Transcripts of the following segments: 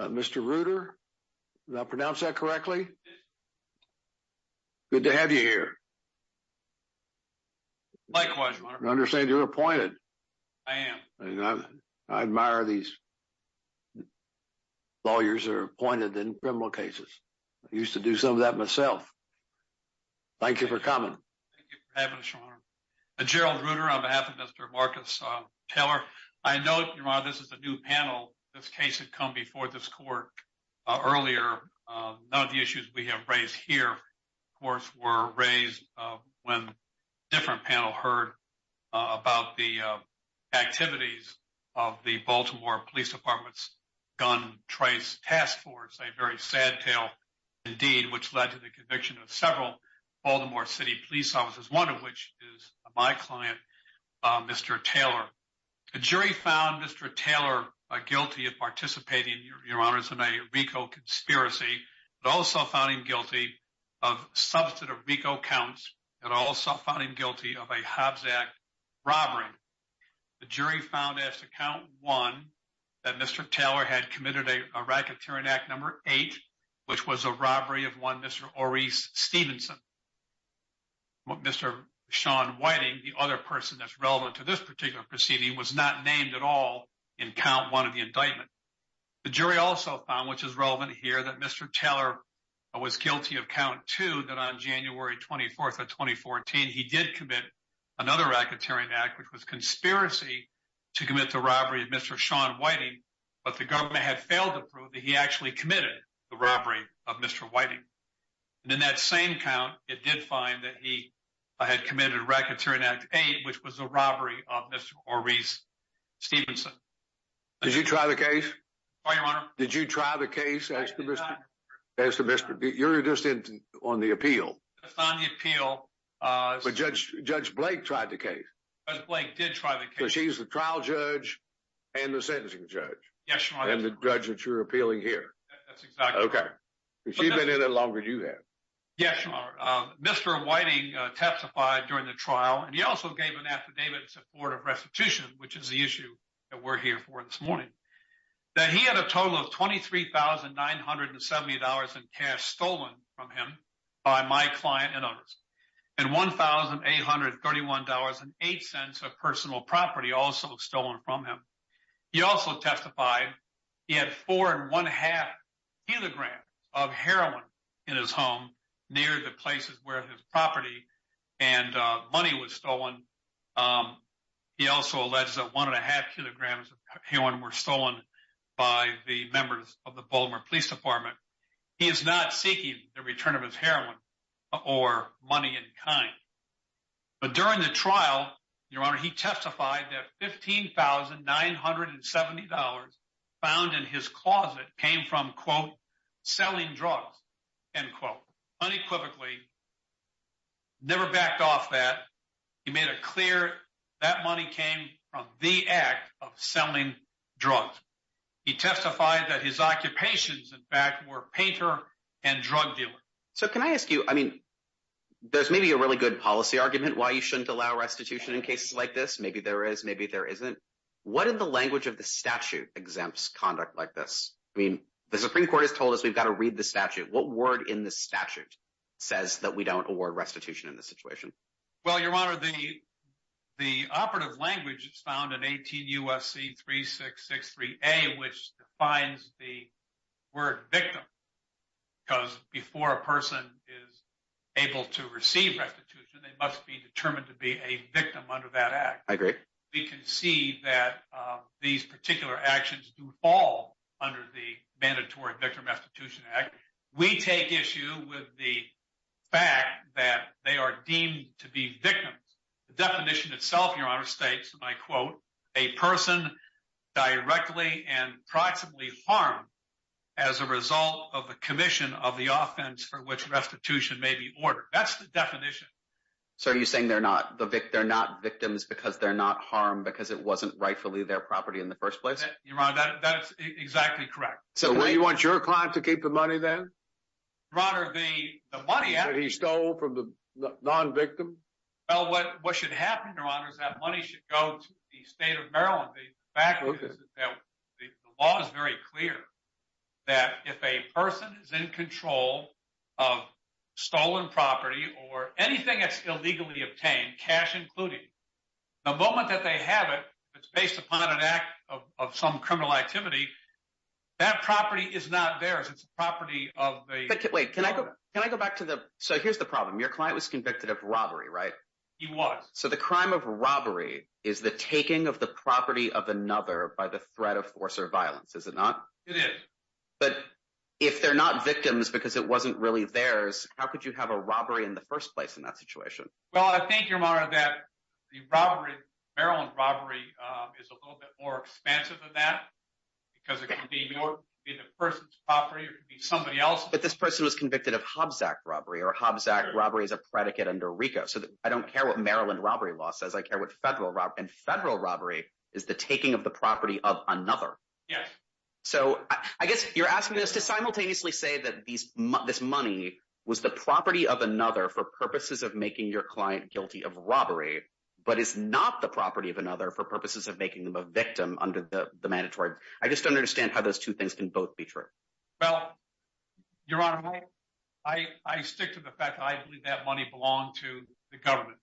Mr. Ruder, did I pronounce that correctly? Good to have you here. Likewise, Your Honor. I understand you're appointed. I am. I admire these lawyers that are appointed in criminal cases. I used to do some of that myself. Thank you for coming. Thank you for having us, Your Honor. On behalf of Mr. Marcus Taylor, I note, Your Honor, this is a new panel. This case had come before this court earlier. None of the issues we have raised here, of course, were raised when a different panel heard about the activities of the Baltimore Police Department's Gun Trace Task Force, a very sad tale, indeed, which led to the conviction of several Baltimore City Police officers, one of which is my client, Mr. Taylor. The jury found Mr. Taylor guilty of participating, Your Honor, in a RICO conspiracy. It also found him guilty of substantive RICO counts. It also found him guilty of a Hobbs Act robbery. The jury found, as to count one, that Mr. Taylor had committed a racketeering act number eight, which was a robbery of one Mr. Stephenson. Mr. Shawn Whiting, the other person that is relevant to this particular proceeding, was not named at all in count one of the indictment. The jury also found, which is relevant here, that Mr. Taylor was guilty of count two, that on January 24, 2014, he did commit another racketeering act, which was a conspiracy to commit the robbery of Mr. Shawn Whiting, but the government had failed to prove that he actually committed the robbery of Mr. Whiting. In that same count, it did find that he had committed a racketeering act eight, which was a robbery of Mr. Maurice Stephenson. Did you try the case? I did, Your Honor. Did you try the case? I did not, Your Honor. You're just on the appeal. That's not on the appeal. But Judge Blake tried the case. Judge Blake did try the case. So she's the trial judge and the sentencing judge? Yes, Your Honor. And the judge that you're appealing here? That's exactly right. She's been in it longer than you have. Yes, Your Honor. Mr. Whiting testified during the trial, and he also gave an affidavit in support of restitution, which is the issue that we're here for this morning, that he had a total of $23,970 in cash stolen from him by my client and others, and $1,831.08 of personal property also stolen from him. He also testified he had 4.5 kilograms of heroin in his home near the places where his property and money was stolen. He also alleged that 1.5 kilograms of heroin were stolen by the members of the Baltimore Police Department. He is not seeking the return of his heroin or money in kind. But during the trial, Your Honor, he testified that $15,970 found in his closet came from, quote, selling drugs, end quote. Unequivocally, never backed off that. He made it clear that money came from the act of selling drugs. He testified that his occupations, in fact, were painter and drug dealer. So can I ask you, I mean, there's maybe a really good policy argument why you shouldn't allow restitution in cases like this. Maybe there is, maybe there isn't. What in the language of the statute exempts conduct like this? I mean, the Supreme Court has told us we've got to read the statute. What word in the statute says that we don't award restitution in this situation? Well, Your Honor, the operative language is found in 18 U.S.C. 3663A, which defines the word victim. Because before a person is able to receive restitution, they must be determined to be a victim under that act. I agree. We can see that these particular actions do fall under the Mandatory Victim Restitution Act. We take issue with the fact that they are deemed to be victims. The definition itself, Your Honor, I quote, a person directly and proximately harmed as a result of the commission of the offense for which restitution may be ordered. That's the definition. So are you saying they're not victims because they're not harmed because it wasn't rightfully their property in the first place? Your Honor, that's exactly correct. So you want your client to keep the money then? Your Honor, the money that he stole from the non-victim. Well, what should happen, Your Honor, is that money should go to the state of Maryland. The fact is that the law is very clear that if a person is in control of stolen property or anything that's illegally obtained, cash included, the moment that they have it, it's based upon an act of some criminal activity. That property is not theirs. It's a property of the- Wait, can I go back to the- He was. So the crime of robbery is the taking of the property of another by the threat of force or violence, is it not? It is. But if they're not victims because it wasn't really theirs, how could you have a robbery in the first place in that situation? Well, I think, Your Honor, that the Maryland robbery is a little bit more expensive than that because it can be the person's property or it can be somebody else's. But this person was convicted of Hobsack robbery or Hobsack robbery is a predicate under RICO. I don't care what Maryland robbery law says. I care what federal robbery, and federal robbery is the taking of the property of another. Yes. So I guess you're asking us to simultaneously say that this money was the property of another for purposes of making your client guilty of robbery, but it's not the property of another for purposes of making them a victim under the mandatory. I just don't understand how those two things can both be true. Well, Your Honor, I stick to the fact that I believe that money belonged to the government,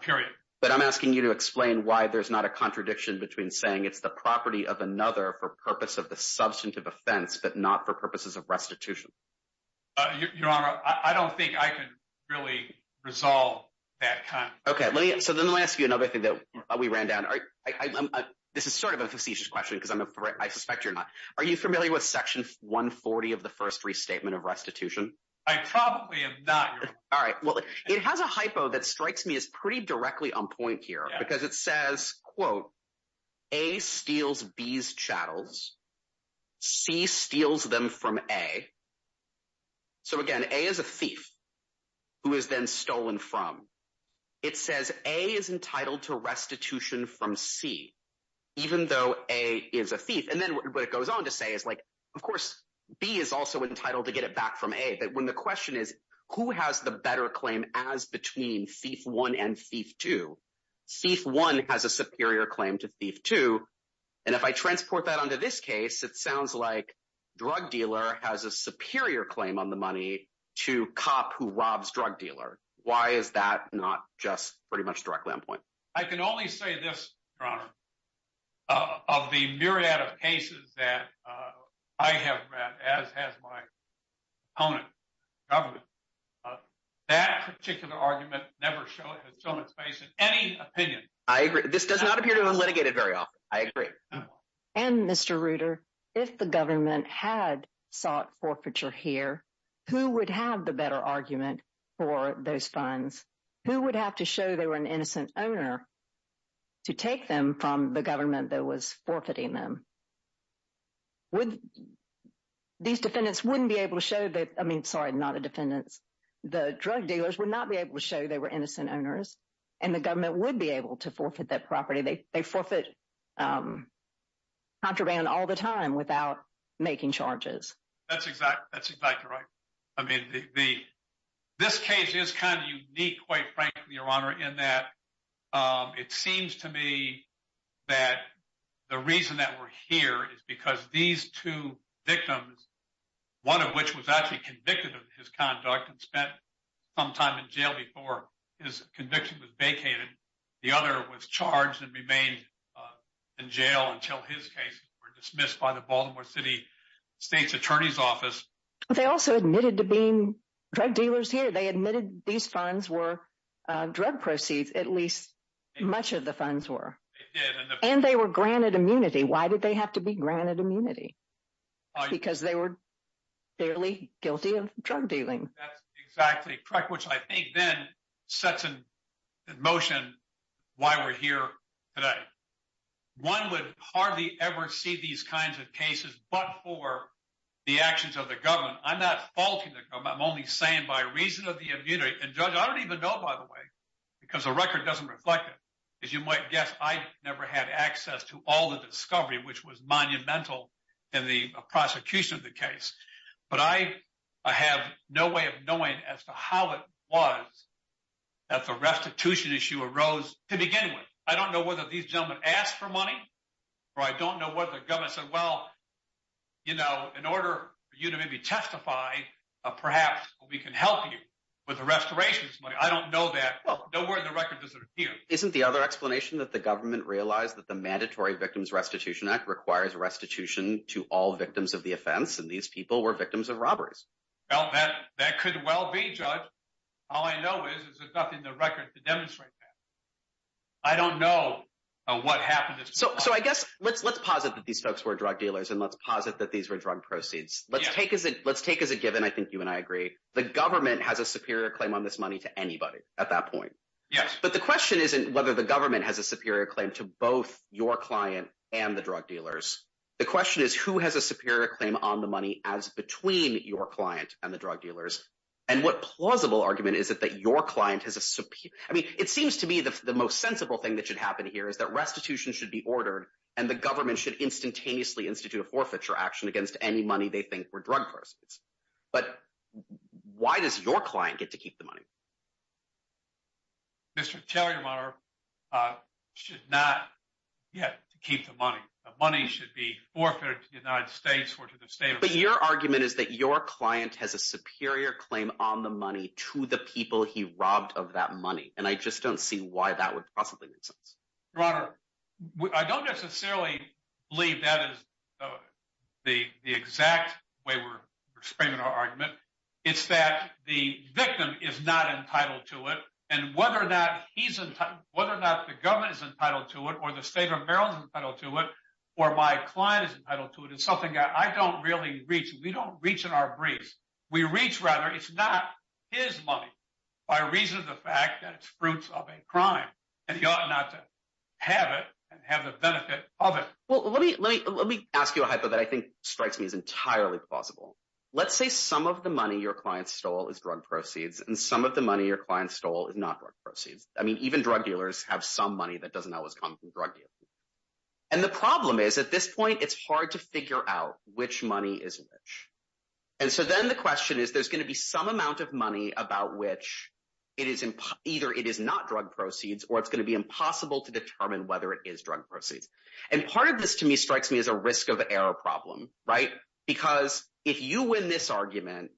period. But I'm asking you to explain why there's not a contradiction between saying it's the property of another for purpose of the substantive offense, but not for purposes of restitution. Your Honor, I don't think I can really resolve that kind of- Okay. So let me ask you another thing that we ran down. This is sort of a facetious question because I suspect you're not. Are you familiar with section 140 of the first restatement of restitution? I probably am not, Your Honor. All right. Well, it has a hypo that strikes me as pretty directly on point here because it says, quote, A steals B's chattels, C steals them from A. So again, A is a thief who is then stolen from. It says A is entitled to restitution from C, even though A is a thief. And then what it goes on to say is, like, of course, B is also entitled to get it back from A. But when the question is, who has the better claim as between thief one and thief two? Thief one has a superior claim to thief two. And if I transport that onto this case, it sounds like drug dealer has a superior claim on the money to cop who robs drug dealer. Why is that not just pretty much directly on point? I can only say this, Your Honor. Of the myriad of cases that I have read, as has my opponent, government, that particular argument never has shown its face in any opinion. I agree. This does not appear to have been litigated very often. I agree. And Mr. Reuter, if the government had sought forfeiture here, who would have the better argument for those funds? Who would have to show they were an innocent owner to take them from the government that was forfeiting them? These defendants wouldn't be able to show that, I mean, sorry, not the defendants, the drug dealers would not be able to show they were innocent owners. And the government would be able to forfeit that property. They forfeit contraband all the time without making charges. That's exactly right. I mean, this case is kind of unique, quite frankly, Your Honor, in that it seems to me that the reason that we're here is because these two victims, one of which was actually convicted of his conduct and spent some time in jail before his conviction was vacated. The other was charged and remained in jail until his cases were dismissed by the Baltimore City State's Attorney's Office. They also admitted to being drug dealers here. They admitted these funds were drug proceeds, at least much of the funds were. And they were granted immunity. Why did they have to be granted immunity? Because they were fairly guilty of drug dealing. That's exactly correct, which I think then sets in the motion why we're here today. One would hardly ever see these kinds of cases but for the actions of the government. I'm not faulting the government. I'm only saying by reason of the immunity. And Judge, I don't even know, by the way, because the record doesn't reflect it. As you might guess, I never had access to all the discovery, which was monumental in the prosecution of the case. But I have no way of knowing as to how it was that the restitution issue arose to begin with. I don't know whether these gentlemen asked for order for you to maybe testify, perhaps we can help you with the restorations money. I don't know that. Nowhere in the record does it appear. Well, isn't the other explanation that the government realized that the Mandatory Victims Restitution Act requires restitution to all victims of the offense and these people were victims of robberies? Well, that could well be, Judge. All I know is there's nothing in the record to demonstrate that. I don't know what happened. So I guess let's posit that these folks were drug dealers and let's posit that these were drug proceeds. Let's take as a given, I think you and I agree, the government has a superior claim on this money to anybody at that point. Yes. But the question isn't whether the government has a superior claim to both your client and the drug dealers. The question is who has a superior claim on the money as between your client and the drug dealers? And what plausible argument is it that your client has a superior? I mean, it seems to me the most sensible thing that should happen here is that restitution should be ordered and the government should instantaneously institute a forfeiture action against any money they think were drug proceeds. But why does your client get to keep the money? Mr. Taylor, Your Honor, should not get to keep the money. The money should be forfeited to the United States or to the state. But your argument is that your client has a superior claim on the money to the people he robbed of that money. And I just don't see why that would possibly make sense. Your Honor, I don't necessarily believe that is the exact way we're framing our argument. It's that the victim is not entitled to it. And whether or not the government is entitled to it, or the state of Maryland is entitled to it, or my client is entitled to it, it's something that I don't really reach. We don't reach in our briefs. We reach rather, it's not his money, by reason of the fact that it's fruits of a crime. And he ought not to have it and have the benefit of it. Well, let me ask you a hypo that I think strikes me as entirely plausible. Let's say some of the money your client stole is drug proceeds, and some of the money your client stole is not drug proceeds. I mean, even drug dealers have some money that doesn't always come from drug dealers. And the problem is, at this point, it's hard to figure out which money is which. And so then the question is, there's going to be some amount of money about which either it is not drug proceeds, or it's going to be impossible to determine whether it is drug proceeds. And part of this, to me, strikes me as a risk of error problem, right? Because if you win this argument,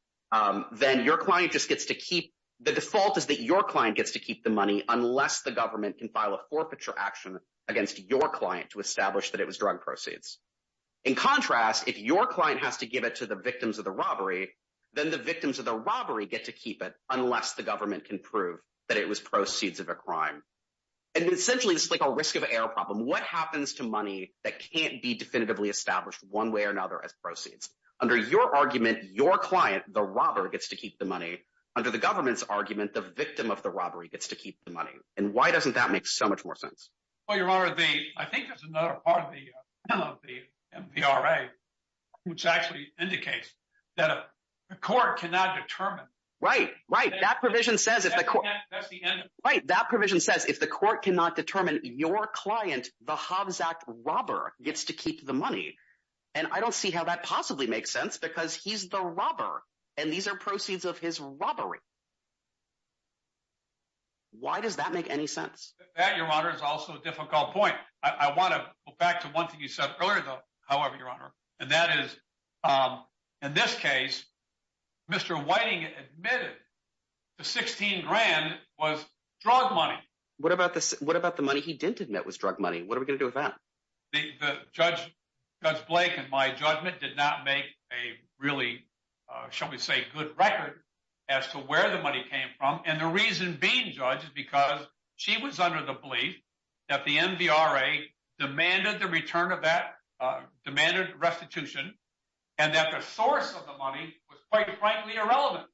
then the default is that your client gets to keep the money unless the government can file a forfeiture action against your client to establish that it was drug proceeds. In contrast, if your client has to give it to the victims of the robbery, then the victims of the robbery get to keep it unless the government can prove that it was proceeds of a crime. And essentially, it's like a risk of error problem. What happens to money that can't be definitively established one way or another as proceeds? Under your argument, your client, the robber, gets to keep the money. Under the government's argument, the victim of the robbery gets to keep the money. And why doesn't that make so much more sense? Well, Your Honor, I think there's another part of the MPRA which actually indicates that a court cannot determine. Right, right. That provision says if the court cannot determine your client, the Hobbs Act robber, gets to keep the money. And I don't see how that possibly makes sense because he's the robber, and these are proceeds of his robbery. Why does that make any sense? That, Your Honor, is also a difficult point. I want to go back to one thing you said earlier, though, however, Your Honor, and that is, in this case, Mr. Whiting admitted the 16 grand was drug money. What about the money he didn't admit was drug money? What are we going to do with that? Judge Blake, in my judgment, did not make a really, shall we say, good record as to where the money came from. And the reason being, Judge, is because she was under the belief that the MVRA demanded the return of that, demanded restitution, and that the source of the money was quite frankly irrelevant.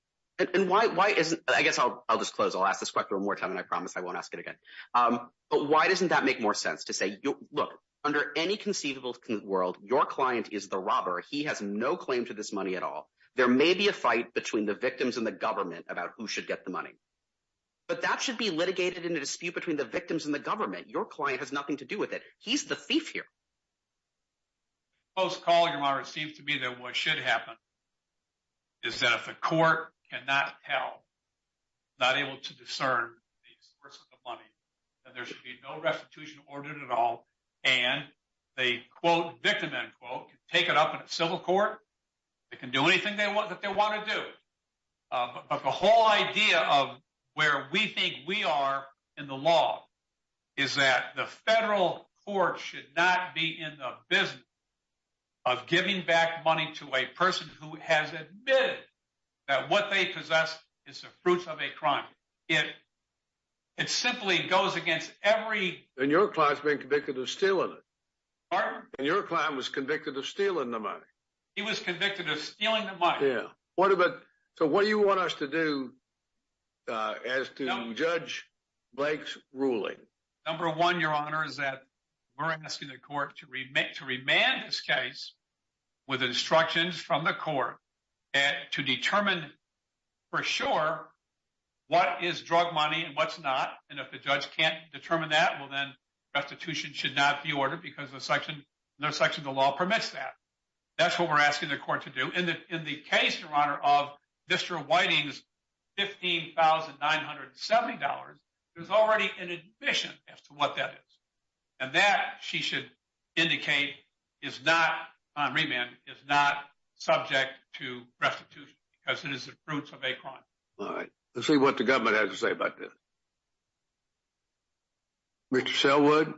And why isn't, I guess I'll just close. I'll ask this question one more time, and I promise I won't ask it again. But why doesn't that make more sense to say, look, under any conceivable world, your client is the robber. He has no claim to this money at all. There may be a fight between the victims and the government about who should get the money. But that should be litigated in a dispute between the victims and the government. Your client has nothing to do with it. He's the thief here. Close call, Your Honor. It seems to me that what should happen is that if a court cannot tell, not able to discern the source of the money, then there should be no restitution ordered at all. And they quote, victim end quote, take it up in a civil court. They can do anything that they want to do. But the whole idea of where we think we are in the law is that the federal court should not be in the business of giving back money to a person who has admitted that what they possess is the fruits of a crime. It simply goes against every- And your client's being convicted of stealing the money. He was convicted of stealing the money. Yeah. So what do you want us to do as to Judge Blake's ruling? Number one, Your Honor, is that we're asking the court to remand this case with instructions from the court to determine for sure what is drug money and what's not. And if the judge can't determine that, well, then restitution should not be ordered because no section of the law permits that. That's what we're asking the court to do. And in the case, Your Honor, of Mr. Whiting's $15,970, there's already an admission as to what that is. And that, she should indicate, is not, on remand, is not subject to restitution because it is the fruits of a crime. All right. Let's see what the government has to say about this. Mr. Selwood?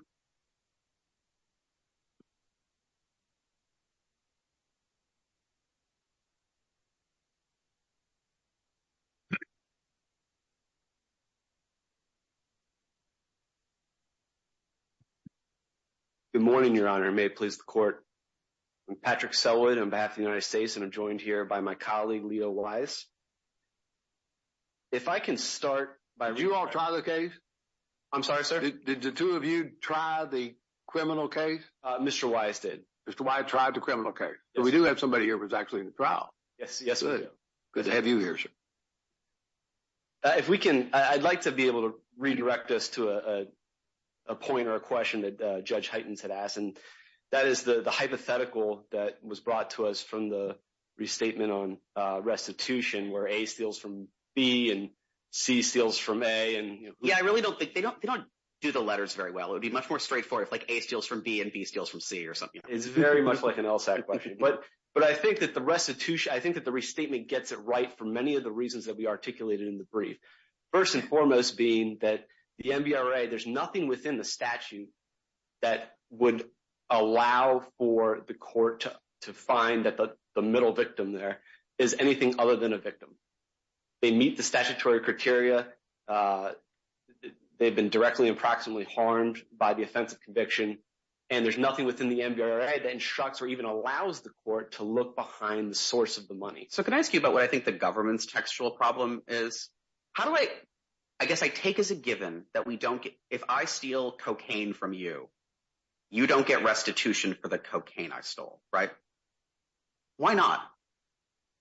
Good morning, Your Honor. May it please the court. I'm Patrick Selwood on behalf of the trial. Did you all try the case? I'm sorry, sir. Did the two of you try the criminal case? Mr. Wise did. Mr. Wise tried the criminal case. But we do have somebody here who was actually in the trial. Yes, yes, we do. Good to have you here, sir. If we can, I'd like to be able to redirect this to a point or a question that Judge Heitens had asked. And that is the hypothetical that was brought to us from the restatement on restitution, where A steals from B and C steals from A, Yeah, I really don't think, they don't do the letters very well. It would be much more straightforward if A steals from B and B steals from C or something. It's very much like an LSAC question. But I think that the restitution, I think that the restatement gets it right for many of the reasons that we articulated in the brief. First and foremost being that the NBRA, there's nothing within the statute that would allow for the court to find that the middle victim there is anything other than a victim. They meet the statutory criteria. They've been directly and proximately harmed by the offense of conviction. And there's nothing within the NBRA that instructs or even allows the court to look behind the source of the money. So can I ask you about what I think the government's textual problem is? How do I, I guess I take as a given that we don't get, if I steal cocaine from you, you don't get restitution for the cocaine I stole, right? Why not?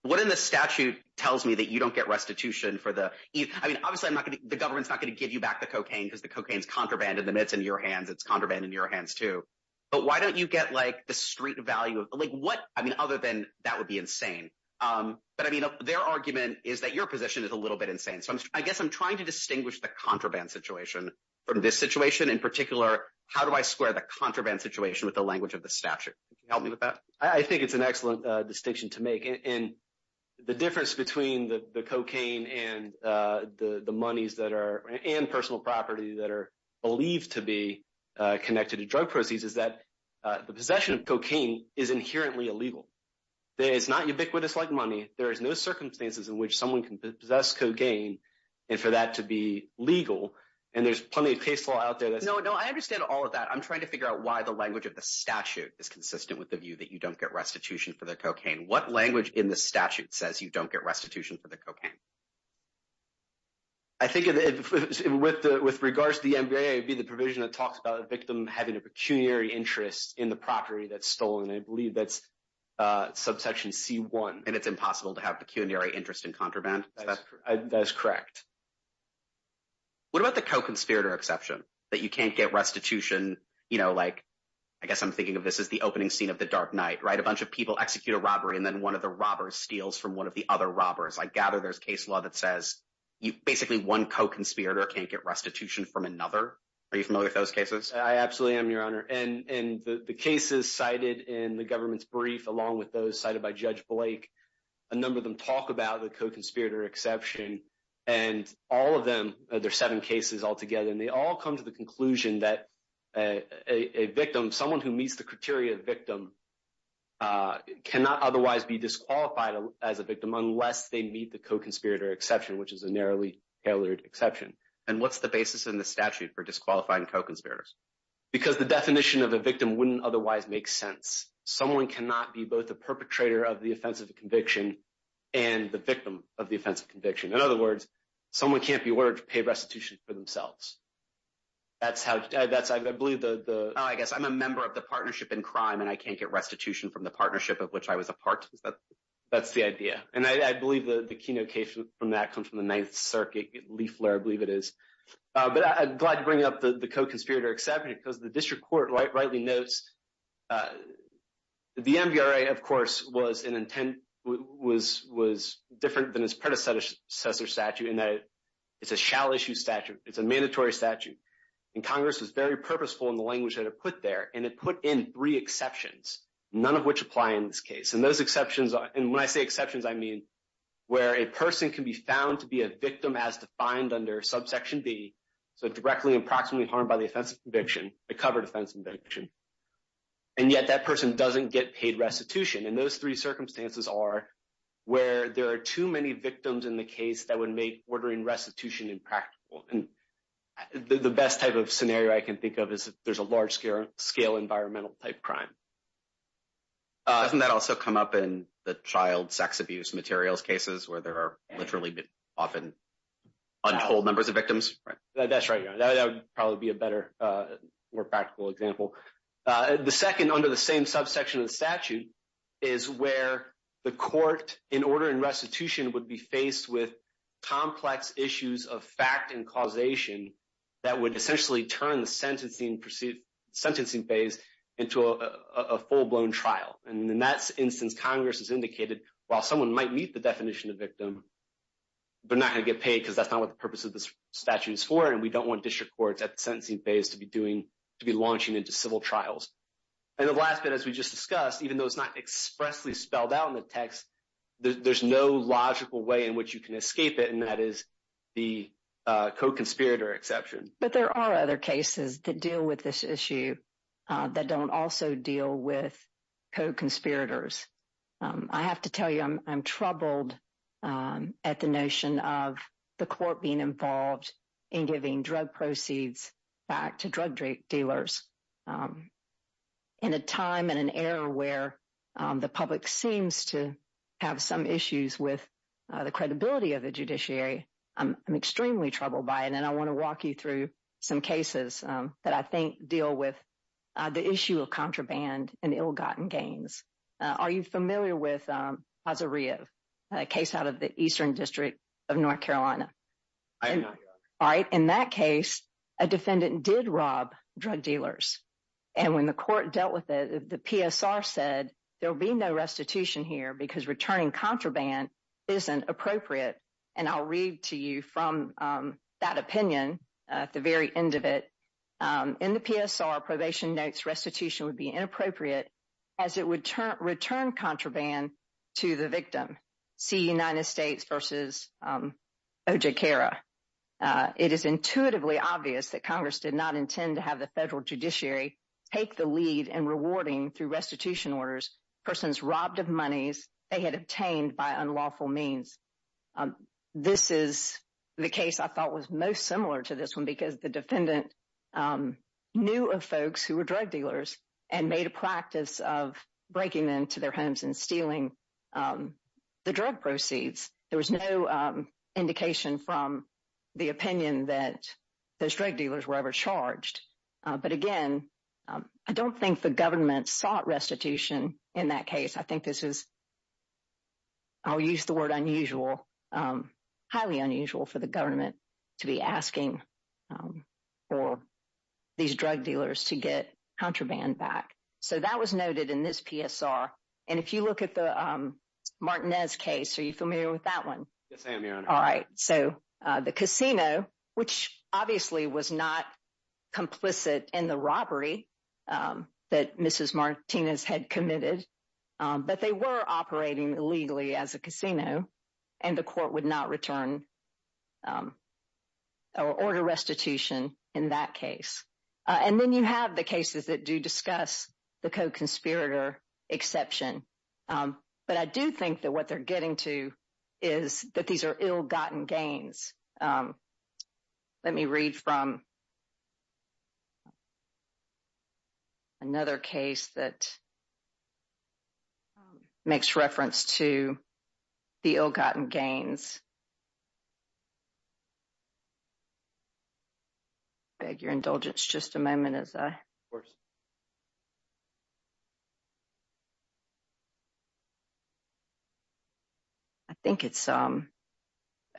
What in the statute tells me that you don't get restitution for the, I mean, obviously I'm not going to, the government's not going to give you back the cocaine because the cocaine is contraband and the meds in your hands, it's contraband in your hands too. But why don't you get like the street value of like what, I mean, other than that would be insane. But I mean, their argument is that your position is a little bit insane. So I guess I'm trying to distinguish the contraband situation from this situation. In particular, how do I square the contraband situation with the language of the statute? Can you help me with that? I think it's an excellent distinction to make. And the difference between the cocaine and the monies that are, and personal property that are believed to be connected to drug proceeds is that the possession of cocaine is inherently illegal. It's not ubiquitous like money. There is no circumstances in which someone can possess cocaine and for that to be legal. And there's plenty of case law out there. No, no, I understand all of that. I'm trying to figure out why the language of the statute is consistent with the view that you don't get restitution for the cocaine. What language in the statute says you don't get restitution for the cocaine? I think with the, with regards to the MBA, it'd be the provision that talks about the victim having a pecuniary interest in the property that's stolen. I believe that's subsection C1. And it's impossible to have that as correct. What about the co-conspirator exception that you can't get restitution? You know, like, I guess I'm thinking of this as the opening scene of the Dark Knight, right? A bunch of people execute a robbery and then one of the robbers steals from one of the other robbers. I gather there's case law that says you basically one co-conspirator can't get restitution from another. Are you familiar with those cases? I absolutely am, your honor. And the cases cited in the government's brief, along with those cited by Judge Blake, a number of them talk about the co-conspirator exception. And all of them, there are seven cases altogether, and they all come to the conclusion that a victim, someone who meets the criteria of victim, cannot otherwise be disqualified as a victim unless they meet the co-conspirator exception, which is a narrowly tailored exception. And what's the basis in the statute for disqualifying co-conspirators? Because the definition of a victim wouldn't otherwise make sense. Someone cannot be both the perpetrator of the offensive conviction and the victim of the offensive conviction. In other words, someone can't be ordered to pay restitution for themselves. That's how, that's, I believe, the... Oh, I guess I'm a member of the partnership in crime and I can't get restitution from the partnership of which I was a part. That's the idea. And I believe the keynote case from that comes from the Ninth Circuit, Lee Flair, I believe it is. But I'm glad to bring up the was an intent, was different than his predecessor statute in that it's a shall issue statute. It's a mandatory statute. And Congress was very purposeful in the language that it put there. And it put in three exceptions, none of which apply in this case. And those exceptions, and when I say exceptions, I mean where a person can be found to be a victim as defined under subsection B, so directly and proximately harmed by the offensive conviction, a covered offensive conviction. And yet that person doesn't get paid restitution. And those three circumstances are where there are too many victims in the case that would make ordering restitution impractical. And the best type of scenario I can think of is if there's a large scale environmental type crime. Doesn't that also come up in the child sex abuse materials cases where there are literally often untold numbers of victims? That's right. That would probably be a better, more practical example. The second under the same subsection of the statute is where the court in order and restitution would be faced with complex issues of fact and causation that would essentially turn the sentencing phase into a full-blown trial. And in that instance, Congress has indicated while someone might meet the definition of victim, they're not going to get paid because that's not what the purpose of this statute is for. We don't want district courts at the sentencing phase to be launching into civil trials. And the last bit, as we just discussed, even though it's not expressly spelled out in the text, there's no logical way in which you can escape it. And that is the co-conspirator exception. But there are other cases that deal with this issue that don't also deal with co-conspirators. I have to tell you, I'm troubled at the notion of the court being involved in giving drug proceeds back to drug dealers. In a time and an era where the public seems to have some issues with the credibility of the judiciary, I'm extremely troubled by it. And I want to walk you through some cases that I think deal with the issue of contraband and ill-gotten gains. Are you familiar with Azaria, a case out of the Eastern District of North Carolina? I am not, Your Honor. All right. In that case, a defendant did rob drug dealers. And when the court dealt with it, the PSR said there'll be no restitution here because returning contraband isn't appropriate. And I'll read to you from that opinion at the very end of it. In the PSR, probation notes restitution would be inappropriate as it would return contraband to the victim. See United States versus OJCARA. It is intuitively obvious that Congress did not intend to have the federal judiciary take the lead in rewarding through restitution orders persons robbed of monies they had obtained by unlawful means. This is the case I thought was most similar to this one because the defendant knew of folks who were drug dealers and made a practice of breaking them to their homes and stealing the drug proceeds. There was no indication from the opinion that those drug dealers were ever charged. But again, I don't think the government sought restitution in that case. I think this is, I'll use the word unusual, highly unusual for the government to be asking for these drug dealers to get contraband back. So that was noted in this PSR. And if you look at the Martinez case, are you familiar with that one? Yes, I am, Your Honor. All right. So the casino, which obviously was not complicit in the robbery that Mrs. Martinez had committed, but they were operating illegally as a casino and the court would not return or order restitution in that case. And then you have the cases that do discuss the co-conspirator exception. But I do think that what they're getting to is that these are ill-gotten gains. Let me read from another case that makes reference to the ill-gotten gains. Beg your indulgence just a moment as I... I think it's the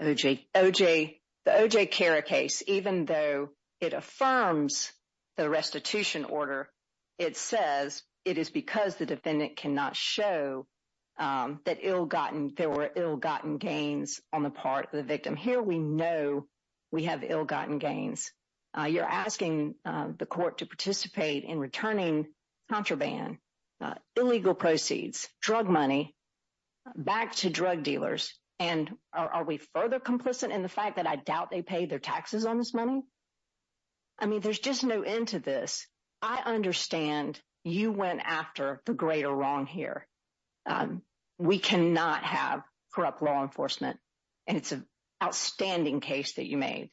O.J. Cara case, even though it affirms the restitution order, it says it is because the defendant cannot show that there were ill-gotten gains on the part of the victim. Here, we know we have ill-gotten gains. You're asking the court to participate in returning contraband, illegal proceeds, drug money back to drug dealers. And are we further complicit in the fact that I doubt they pay their taxes on this money? I mean, there's just no end to this. I understand you went after the greater wrong here. We cannot have corrupt law enforcement. And it's an outstanding case that you made.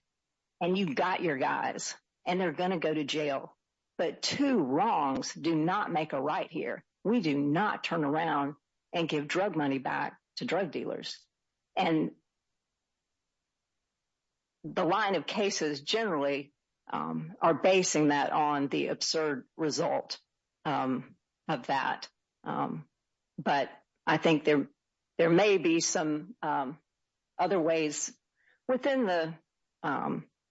And you've got your guys and they're going to go to here. We do not turn around and give drug money back to drug dealers. And the line of cases generally are basing that on the absurd result of that. But I think there may be some other ways within the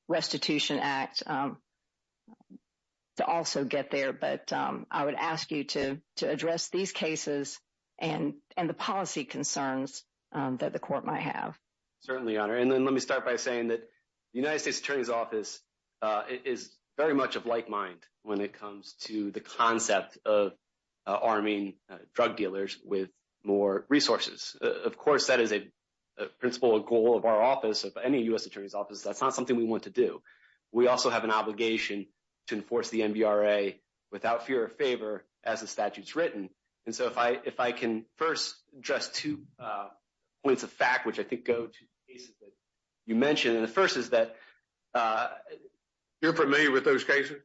restitution act to also get there. But I would ask you to address these cases and the policy concerns that the court might have. Certainly, Your Honor. And then let me start by saying that the United States Attorney's Office is very much of like mind when it comes to the concept of arming drug dealers with more resources. Of course, that is a principle, a goal of our office, of any U.S. Attorney's Office. That's not something we want to do. We also have an obligation to enforce the NBRA without fear of favor as the statute's written. And so, if I can first address two points of fact, which I think go to the cases that you mentioned. And the first is that- You're familiar with those cases?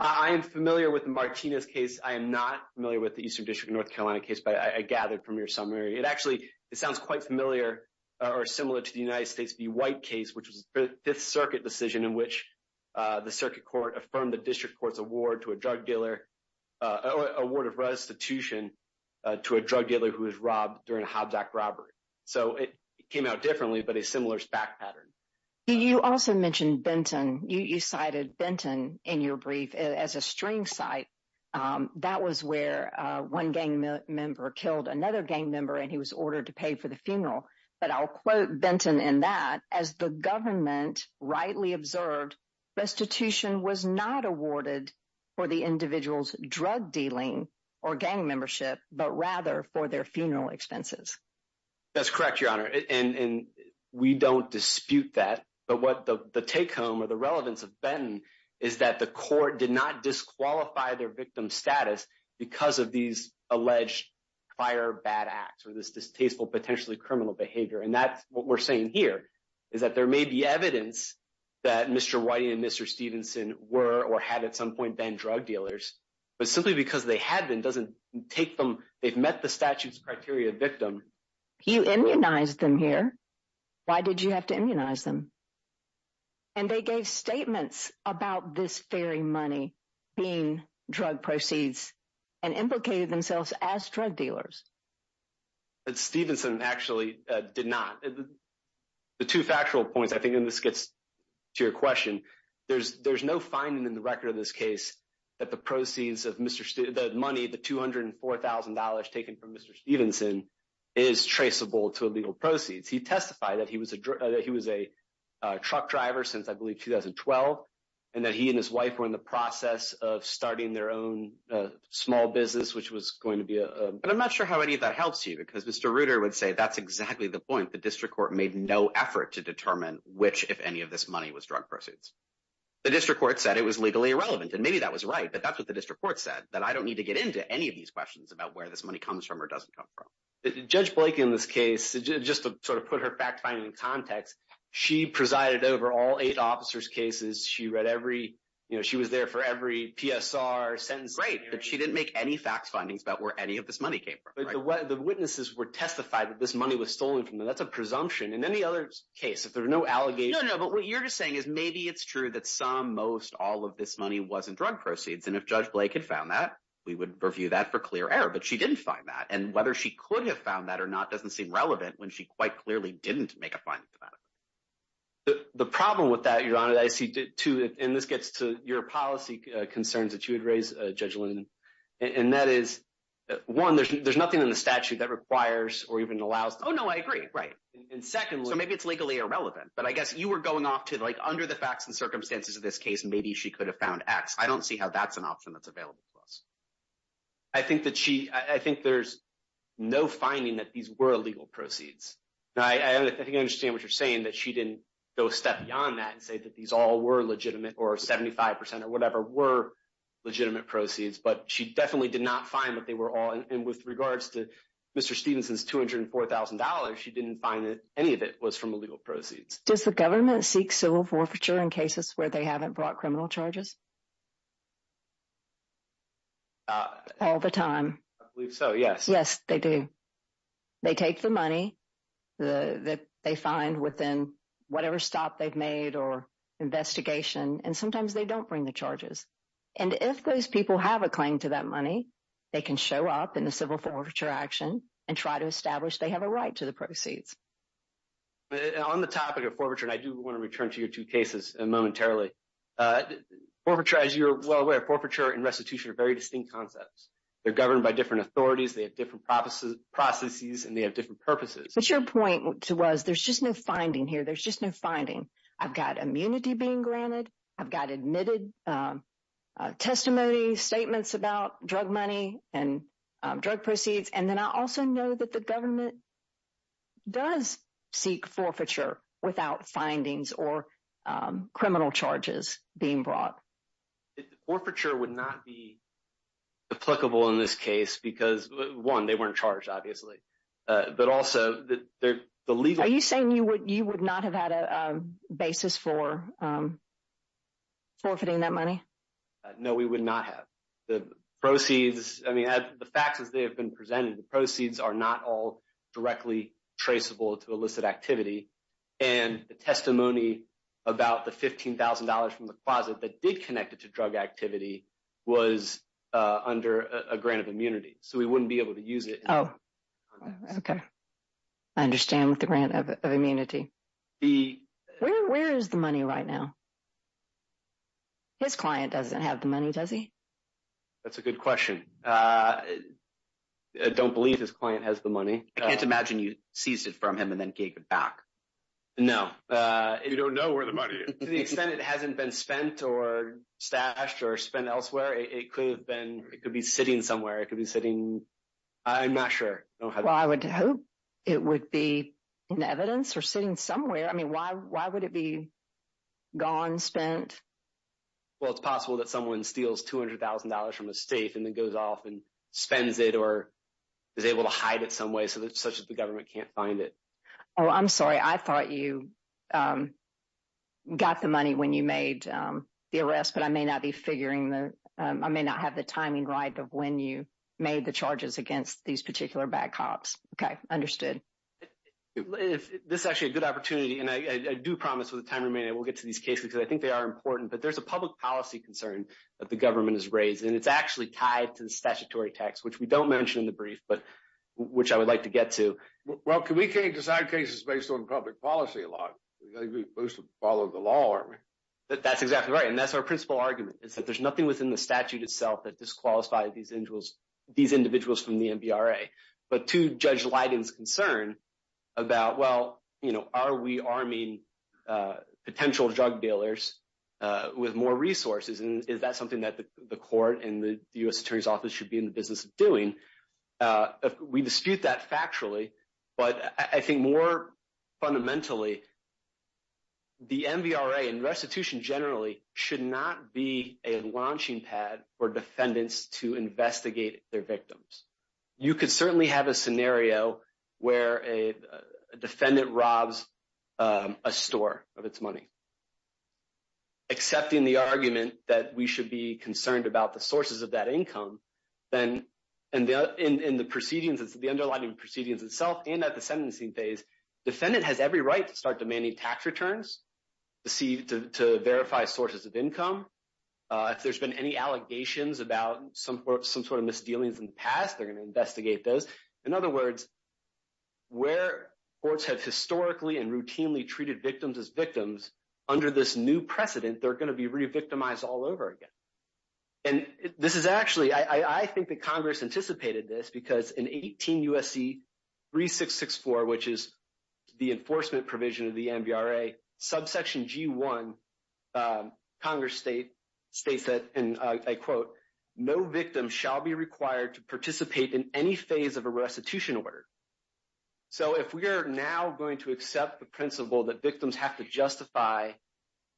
I am familiar with the Martinez case. I am not familiar with the Eastern District of North Carolina case, but I gathered from your summary. It actually, it sounds quite familiar or similar to the United States v. White case, which was the Fifth Circuit decision in which the Circuit Court affirmed the District Court's award to a drug dealer, award of restitution to a drug dealer who was robbed during a Hobbs Act robbery. So, it came out differently, but a similar fact pattern. You also mentioned Benton. You cited Benton in your brief as a string site. That was where one gang member killed another gang member and he was ordered to pay for the funeral. But I'll quote Benton in that, as the government rightly observed, restitution was not awarded for the individual's drug dealing or gang membership, but rather for their funeral expenses. That's correct, Your Honor. And we don't dispute that. But what the take home or the relevance of Benton is that the court did not disqualify their victim status because of these alleged prior bad acts or this distasteful, potentially criminal behavior. And that's what we're saying here is that there may be evidence that Mr. Whiting and Mr. Stevenson were or had at some point been drug dealers, but simply because they had been doesn't take them, they've met the statute's criteria victim. You immunized them here. Why did you have to immunize them? And they gave statements about this very money being drug proceeds and implicated themselves as drug dealers. But Stevenson actually did not. The two factual points, I think, and this gets to your question. There's no finding in the record of this case that the proceeds of the money, the $204,000 taken from Mr. Stevenson, is traceable to illegal proceeds. He testified that he was a truck driver since I believe 2012, and that he and his wife were in the process of And I'm not sure how any of that helps you, because Mr. Reuter would say that's exactly the point. The district court made no effort to determine which, if any, of this money was drug proceeds. The district court said it was legally irrelevant, and maybe that was right, but that's what the district court said, that I don't need to get into any of these questions about where this money comes from or doesn't come from. Judge Blake in this case, just to sort of put her fact finding in context, she presided over all eight officers' cases. She was there for every PSR sentence. Great, but she didn't make any facts findings about where any of this money came from. The witnesses were testified that this money was stolen from them. That's a presumption. In any other case, if there are no allegations... No, no, but what you're just saying is maybe it's true that some, most, all of this money wasn't drug proceeds, and if Judge Blake had found that, we would review that for clear error, but she didn't find that, and whether she could have found that or not doesn't seem relevant when she quite clearly didn't make a finding for that. The problem with that, Your Honor, I see too, and this gets to your policy concerns that you raised, Judge Lin, and that is, one, there's nothing in the statute that requires or even allows... Oh, no, I agree, right. And secondly... So, maybe it's legally irrelevant, but I guess you were going off to, like, under the facts and circumstances of this case, maybe she could have found X. I don't see how that's an option that's available to us. I think that she, I think there's no finding that these were illegal proceeds. Now, I think I understand what you're saying, that she didn't go a step beyond that and say that these all were legitimate or 75 percent or proceeds, but she definitely did not find that they were all, and with regards to Mr. Stevenson's $204,000, she didn't find that any of it was from illegal proceeds. Does the government seek civil forfeiture in cases where they haven't brought criminal charges? All the time. I believe so, yes. Yes, they do. They take the money that they find within whatever stop they've made or investigation, and sometimes they don't bring the charges. And if those people have a claim to that money, they can show up in the civil forfeiture action and try to establish they have a right to the proceeds. But on the topic of forfeiture, and I do want to return to your two cases momentarily. Forfeiture, as you're well aware, forfeiture and restitution are very distinct concepts. They're governed by different authorities, they have different processes, and they have different purposes. But your point was, there's just no finding here. There's just no finding. I've got immunity being granted. I've got admitted testimony, statements about drug money and drug proceeds. And then I also know that the government does seek forfeiture without findings or criminal charges being brought. Forfeiture would not be applicable in this case because, one, they weren't charged, obviously. But also, the legal... Are you saying you would not have had a basis for forfeiting that money? No, we would not have. The proceeds, I mean, the facts as they have been presented, the proceeds are not all directly traceable to illicit activity. And the testimony about the $15,000 from the closet that did connect it to drug activity was under a grant of immunity. So, we wouldn't be able to use it. Oh, okay. I understand with the grant of immunity. Where is the money right now? His client doesn't have the money, does he? That's a good question. I don't believe his client has the money. I can't imagine you seized it from him and then gave it back. No. You don't know where the money is. To the extent it hasn't been spent or stashed or spent elsewhere, it could have been... I'm not sure. I would hope it would be in evidence or sitting somewhere. I mean, why would it be gone, spent? Well, it's possible that someone steals $200,000 from a safe and then goes off and spends it or is able to hide it some way such that the government can't find it. Oh, I'm sorry. I thought you got the money when you made the arrest, but I may not have the timing right of when you made the charges against these particular bad cops. Okay. Understood. This is actually a good opportunity. And I do promise with the time remaining, I will get to these cases because I think they are important. But there's a public policy concern that the government has raised. And it's actually tied to the statutory tax, which we don't mention in the brief, but which I would like to get to. Well, we can't decide cases based on public policy a lot. We mostly follow the law, aren't we? That's exactly right. And that's our principal argument is that there's nothing within the statute itself that disqualifies these individuals from the MVRA. But to Judge Lydon's concern about, well, are we arming potential drug dealers with more resources? And is that something that the court and the U.S. Attorney's Office should be in the business of doing? If we dispute that factually, but I think more fundamentally, the MVRA and restitution generally should not be a launching pad for defendants to investigate their victims. You could certainly have a scenario where a defendant robs a store of its money. Accepting the argument that we should concerned about the sources of that income, then in the proceedings, it's the underlying proceedings itself and at the sentencing phase, defendant has every right to start demanding tax returns to verify sources of income. If there's been any allegations about some sort of misdealings in the past, they're going to investigate those. In other words, where courts have historically and routinely treated victims as victims, under this new precedent, they're going to be revictimized all over again. And this is actually, I think that Congress anticipated this because in 18 USC 3664, which is the enforcement provision of the MVRA, subsection G1, Congress states that, and I quote, no victim shall be required to participate in any phase of a restitution order. So if we are now going to accept the principle that victims have to justify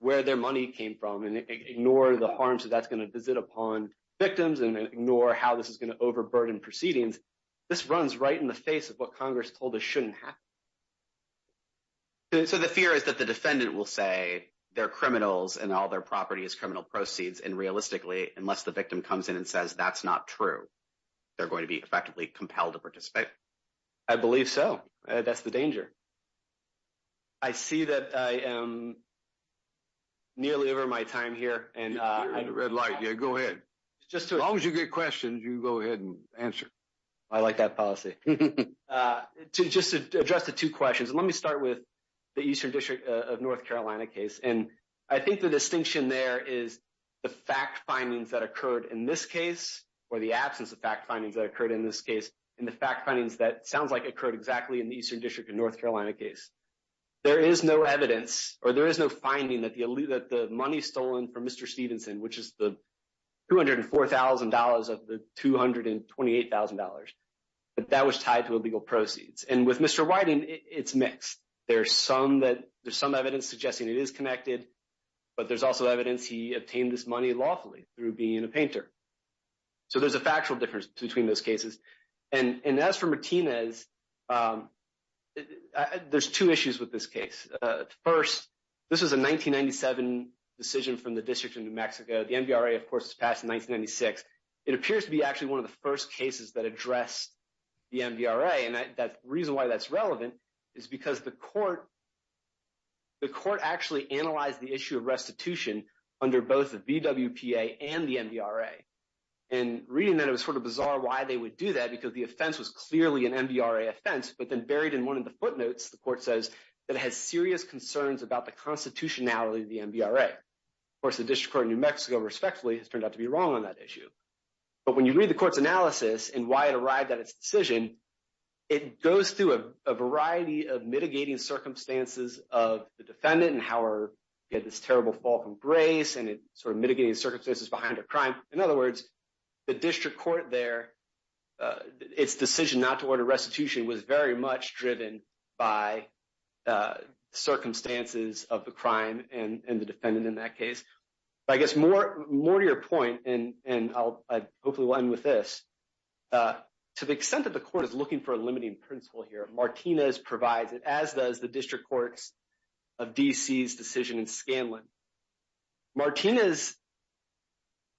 where their money came from and ignore the harms that that's going to visit upon victims and ignore how this is going to overburden proceedings, this runs right in the face of what Congress told us shouldn't happen. So the fear is that the defendant will say they're criminals and all their property is criminal proceeds and realistically, unless the victim comes in and says that's not true, they're going to be effectively compelled to participate. I believe so. That's the danger. I see that I am nearly over my time here and- You're in the red light. Yeah, go ahead. As long as you get questions, you go ahead and answer. I like that policy. To just address the two questions, let me start with the Eastern District of North Carolina case. And I think the distinction there is the fact findings that occurred in this case, or the absence of fact findings that occurred in this case, and the fact findings that sounds like occurred exactly in the Eastern District of North Carolina case. There is no evidence or there is no finding that the money stolen from Mr. Stevenson, which is the $204,000 of the $228,000, but that was tied to illegal proceeds. And with Mr. Whiting, it's mixed. There's some evidence suggesting it is connected, but there's also evidence he obtained this money lawfully through being a painter. So there's a factual difference between those cases. And as for Martinez, there's two issues with this case. First, this was a 1997 decision from the District of New Mexico. The MVRA, of course, was passed in 1996. It appears to be actually one of the first cases that addressed the MVRA. And the reason why that's relevant is because the court actually analyzed the issue of restitution under both the BWPA and the MVRA. And reading that, it's sort of bizarre why they would do that because the offense was clearly an MVRA offense, but then buried in one of the footnotes, the court says that it has serious concerns about the constitutionality of the MVRA. Of course, the District Court of New Mexico, respectfully, has turned out to be wrong on that issue. But when you read the court's analysis and why it arrived at its decision, it goes through a variety of mitigating circumstances of the defendant and how this terrible fall from grace and sort of mitigating circumstances behind a crime. In other words, the District Court there, its decision not to order restitution was very much driven by circumstances of the crime and the defendant in that case. But I guess more to your point, and I'll hopefully end with this, to the extent that the court is looking for a limiting principle here, Martinez provides it, as does the District Courts of DC's decision in Scanlon. Martinez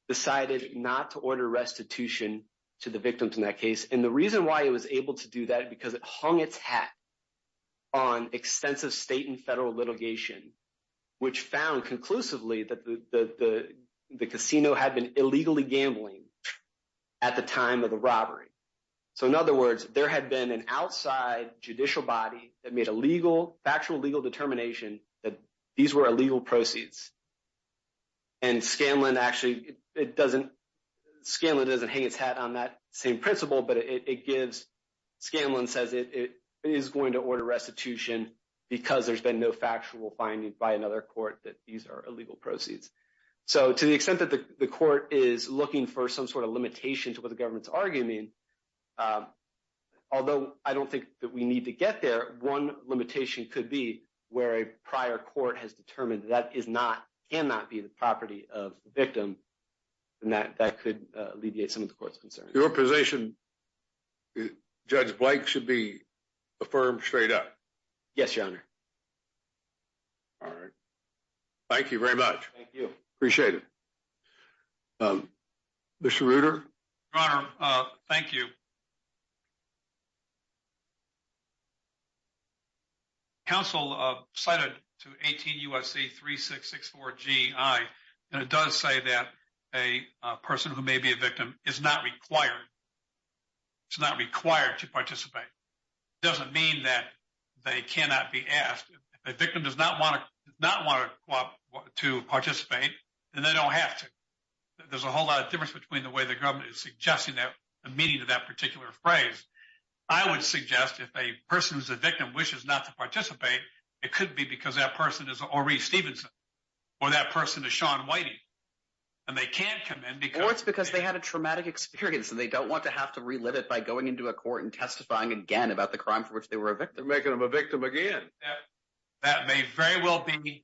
decided not to order restitution to the victims in that case. And the reason why it was able to do that, because it hung its hat on extensive state and federal litigation, which found conclusively that the casino had been illegally gambling at the time of the robbery. So in other words, there had been an outside judicial body that made a legal, factual legal determination that these were illegal proceeds. And Scanlon actually, it doesn't, Scanlon doesn't hang its hat on that same principle, but it gives, Scanlon says it is going to order restitution because there's been no factual finding by another court that these are illegal proceeds. So to the extent that the court is looking for some sort of limitation to what the government's arguing, um, although I don't think that we need to get there, one limitation could be where a prior court has determined that is not, cannot be the property of the victim and that that could alleviate some of the court's concerns. Your position, Judge Blake should be affirmed straight up. Yes, Your Honor. All right. Thank you very much. Thank you. Appreciate it. Commissioner Reuter. Your Honor, uh, thank you. Council, uh, cited to 18 U.S.C. 3664 G.I., and it does say that a person who may be a victim is not required. It's not required to participate. It doesn't mean that they cannot be asked. If a whole lot of difference between the way the government is suggesting that the meaning of that particular phrase, I would suggest if a person who's a victim wishes not to participate, it could be because that person is already Stevenson or that person is Sean Whitey and they can't come in because it's because they had a traumatic experience and they don't want to have to relive it by going into a court and testifying again about the crime for which they were a victim, making them a victim again. That may very well be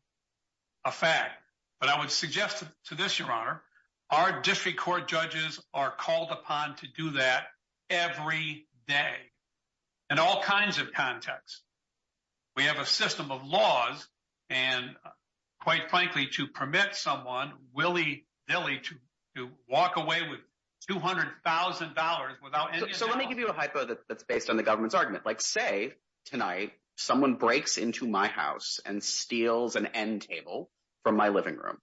a fact, but I would suggest to this, our district court judges are called upon to do that every day in all kinds of contexts. We have a system of laws and quite frankly, to permit someone willy-nilly to walk away with $200,000 without. So let me give you a hypo that's based on the government's argument. Like say tonight, someone breaks into my house and steals an end table from my living room.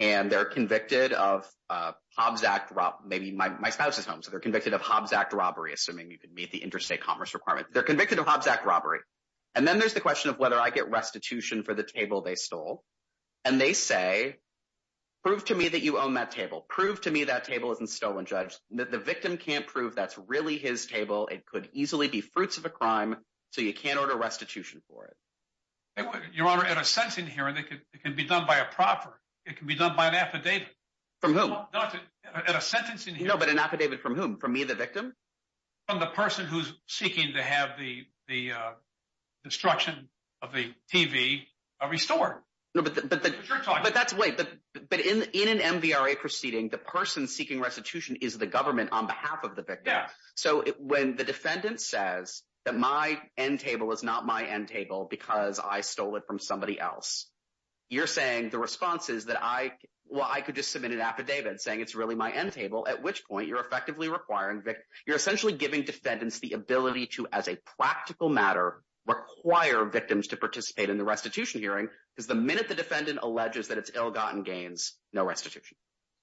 And they're convicted of Hobbs Act robbery, maybe my spouse's home. So they're convicted of Hobbs Act robbery, assuming you can meet the interstate commerce requirement. They're convicted of Hobbs Act robbery. And then there's the question of whether I get restitution for the table they stole. And they say, prove to me that you own that table. Prove to me that table isn't stolen judge. The victim can't prove that's really his table. It could easily be fruits of a crime. So you can't order restitution for it. Your Honor, at a sentencing hearing, it can be done by a proffer. It can be done by an affidavit. From whom? Doctor, at a sentencing hearing. No, but an affidavit from whom? From me, the victim? From the person who's seeking to have the destruction of the TV restored. No, but in an MVRA proceeding, the person seeking restitution is the government on behalf of the victim. So when the defendant says that my end table is not my end table because I stole it from somebody else, you're saying the response is that I, well, I could just submit an affidavit saying it's really my end table, at which point you're effectively requiring, you're essentially giving defendants the ability to, as a practical matter, require victims to participate in the restitution hearing because the minute the defendant alleges that it's ill-gotten gains, no restitution.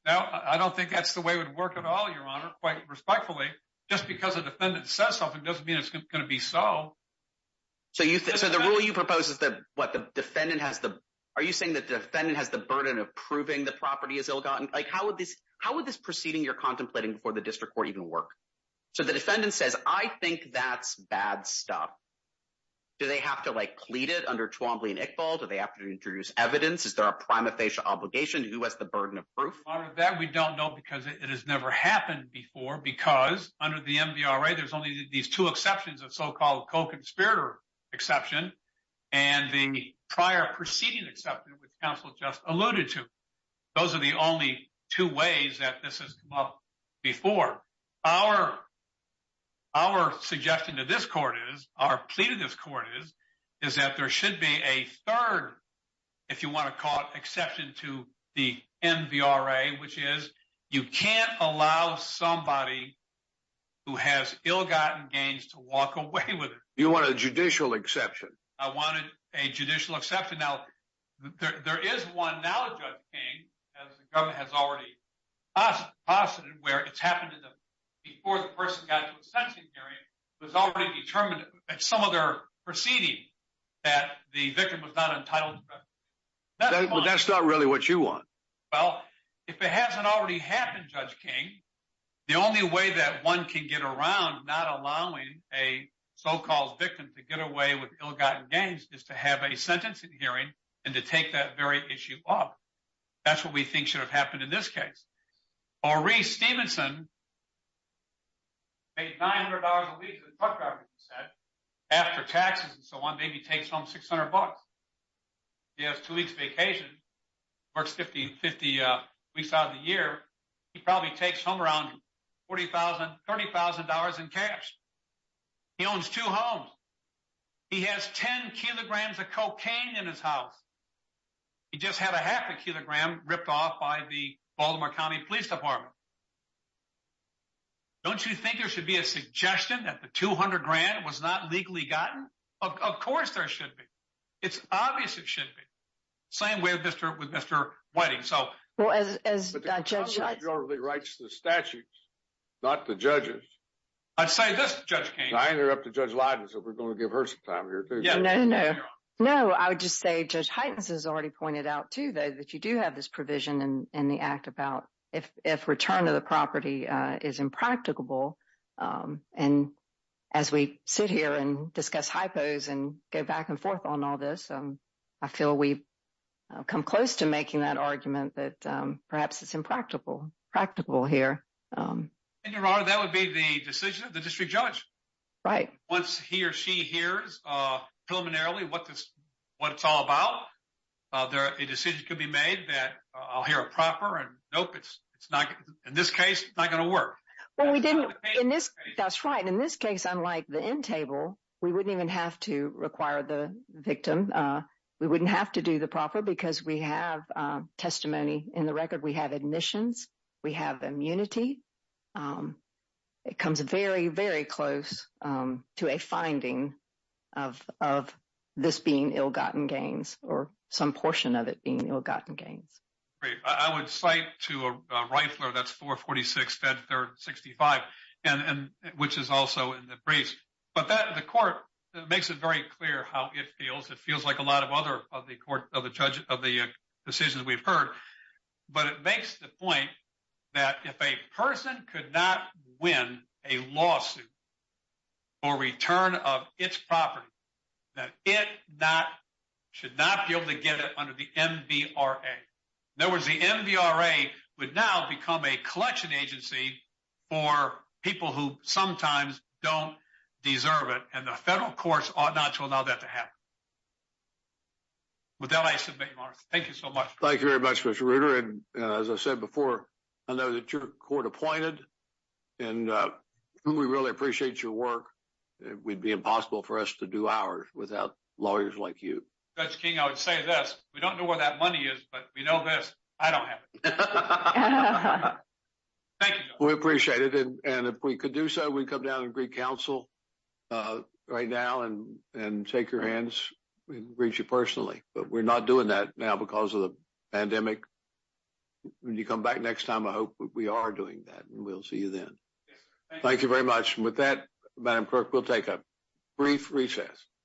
No, I don't think that's the way it would work at all, Your Honor, quite respectfully. Just because a defendant says something doesn't mean it's going to be so. So you think, so the rule you propose is that, what, the defendant has the, are you saying that the defendant has the burden of proving the property is ill-gotten? Like, how would this, how would this proceeding you're contemplating before the district court even work? So the defendant says, I think that's bad stuff. Do they have to, like, plead it under Twombly and Iqbal? Do they have to introduce evidence? Is there a prima facie obligation? Who has the burden of proof? On that, we don't know because it has never happened before because under the MVRA, there's only these two exceptions, the so-called co-conspirator exception and the prior proceeding exception, which counsel just alluded to. Those are the only two ways that this has come up before. Our suggestion to this court is, our plea to this court is, is that there should be a third, if you want to call it, to walk away with it. You want a judicial exception? I wanted a judicial exception. Now, there is one now, Judge King, as the government has already posited, where it's happened to them before the person got to a sentencing period, it was already determined at some other proceeding that the victim was not entitled. That's not really what you want. Well, if it hasn't already happened, Judge King, the only way that one can get around not allowing a so-called victim to get away with ill-gotten gains is to have a sentencing hearing and to take that very issue up. That's what we think should have happened in this case. Maurice Stevenson paid $900 a week to the truck driver, he said, after taxes and so on, he takes home 600 bucks. He has two weeks vacation, works 50 weeks out of the year, he probably takes home around $40,000, $30,000 in cash. He owns two homes. He has 10 kilograms of cocaine in his house. He just had a half a kilogram ripped off by the Baltimore County Police Department. Don't you think there should be a suggestion that the 200 grand was not legally gotten? Of course there should be. It's obvious it shouldn't be. Same way with Mr. Whiting. Well, as Judge- But the Constitution generally writes the statutes, not the judges. I'd say this, Judge King- I interrupted Judge Leiden, so we're going to give her some time here, too. Yeah, no, no. No, I would just say Judge Heitens has already pointed out, too, though, that you do have this provision in the act about if return of the property is impracticable. And as we sit here and discuss hypos and go back and forth on all this, I feel we've come close to making that argument that perhaps it's impractical here. And, Your Honor, that would be the decision of the district judge. Right. Once he or she hears preliminarily what it's all about, a decision could be made that, I'll hear it proper, and nope, in this case, it's not going to work. Well, we didn't- That's right. In this case, unlike the end table, we wouldn't even have to require the victim. We wouldn't have to do the proper because we have testimony in the record. We have admissions. We have immunity. It comes very, very close to a finding of this being ill-gotten gains or some portion of it being ill-gotten gains. Great. I would cite to a rifler, that's 446 Fed Third 65, which is also in the briefs. But the court makes it very clear how it feels. It feels like a lot of other of the court, of the judge, of the decisions we've heard. But it makes the point that if a person could not win a lawsuit for return of its property, that it should not be able to get it under the MVRA. In other words, the MVRA would now become a collection agency for people who sometimes don't deserve it. And the federal courts ought not to allow that to happen. With that, I submit, Morris. Thank you so much. Thank you very much, Mr. Reuter. And as I said before, I know that your court appointed and we really appreciate your work. It would be impossible for us to do ours without lawyers like you. Judge King, I would say this. We don't know where that money is, but we know that I don't have it. Thank you. We appreciate it. And if we could do so, we'd come down and greet counsel right now and take your hands and greet you personally. But we're not doing that now because of the pandemic. When you come back next time, I hope we are doing that and we'll see you then. Thank you very much. And with that, Madam Clerk, we'll take a brief recess.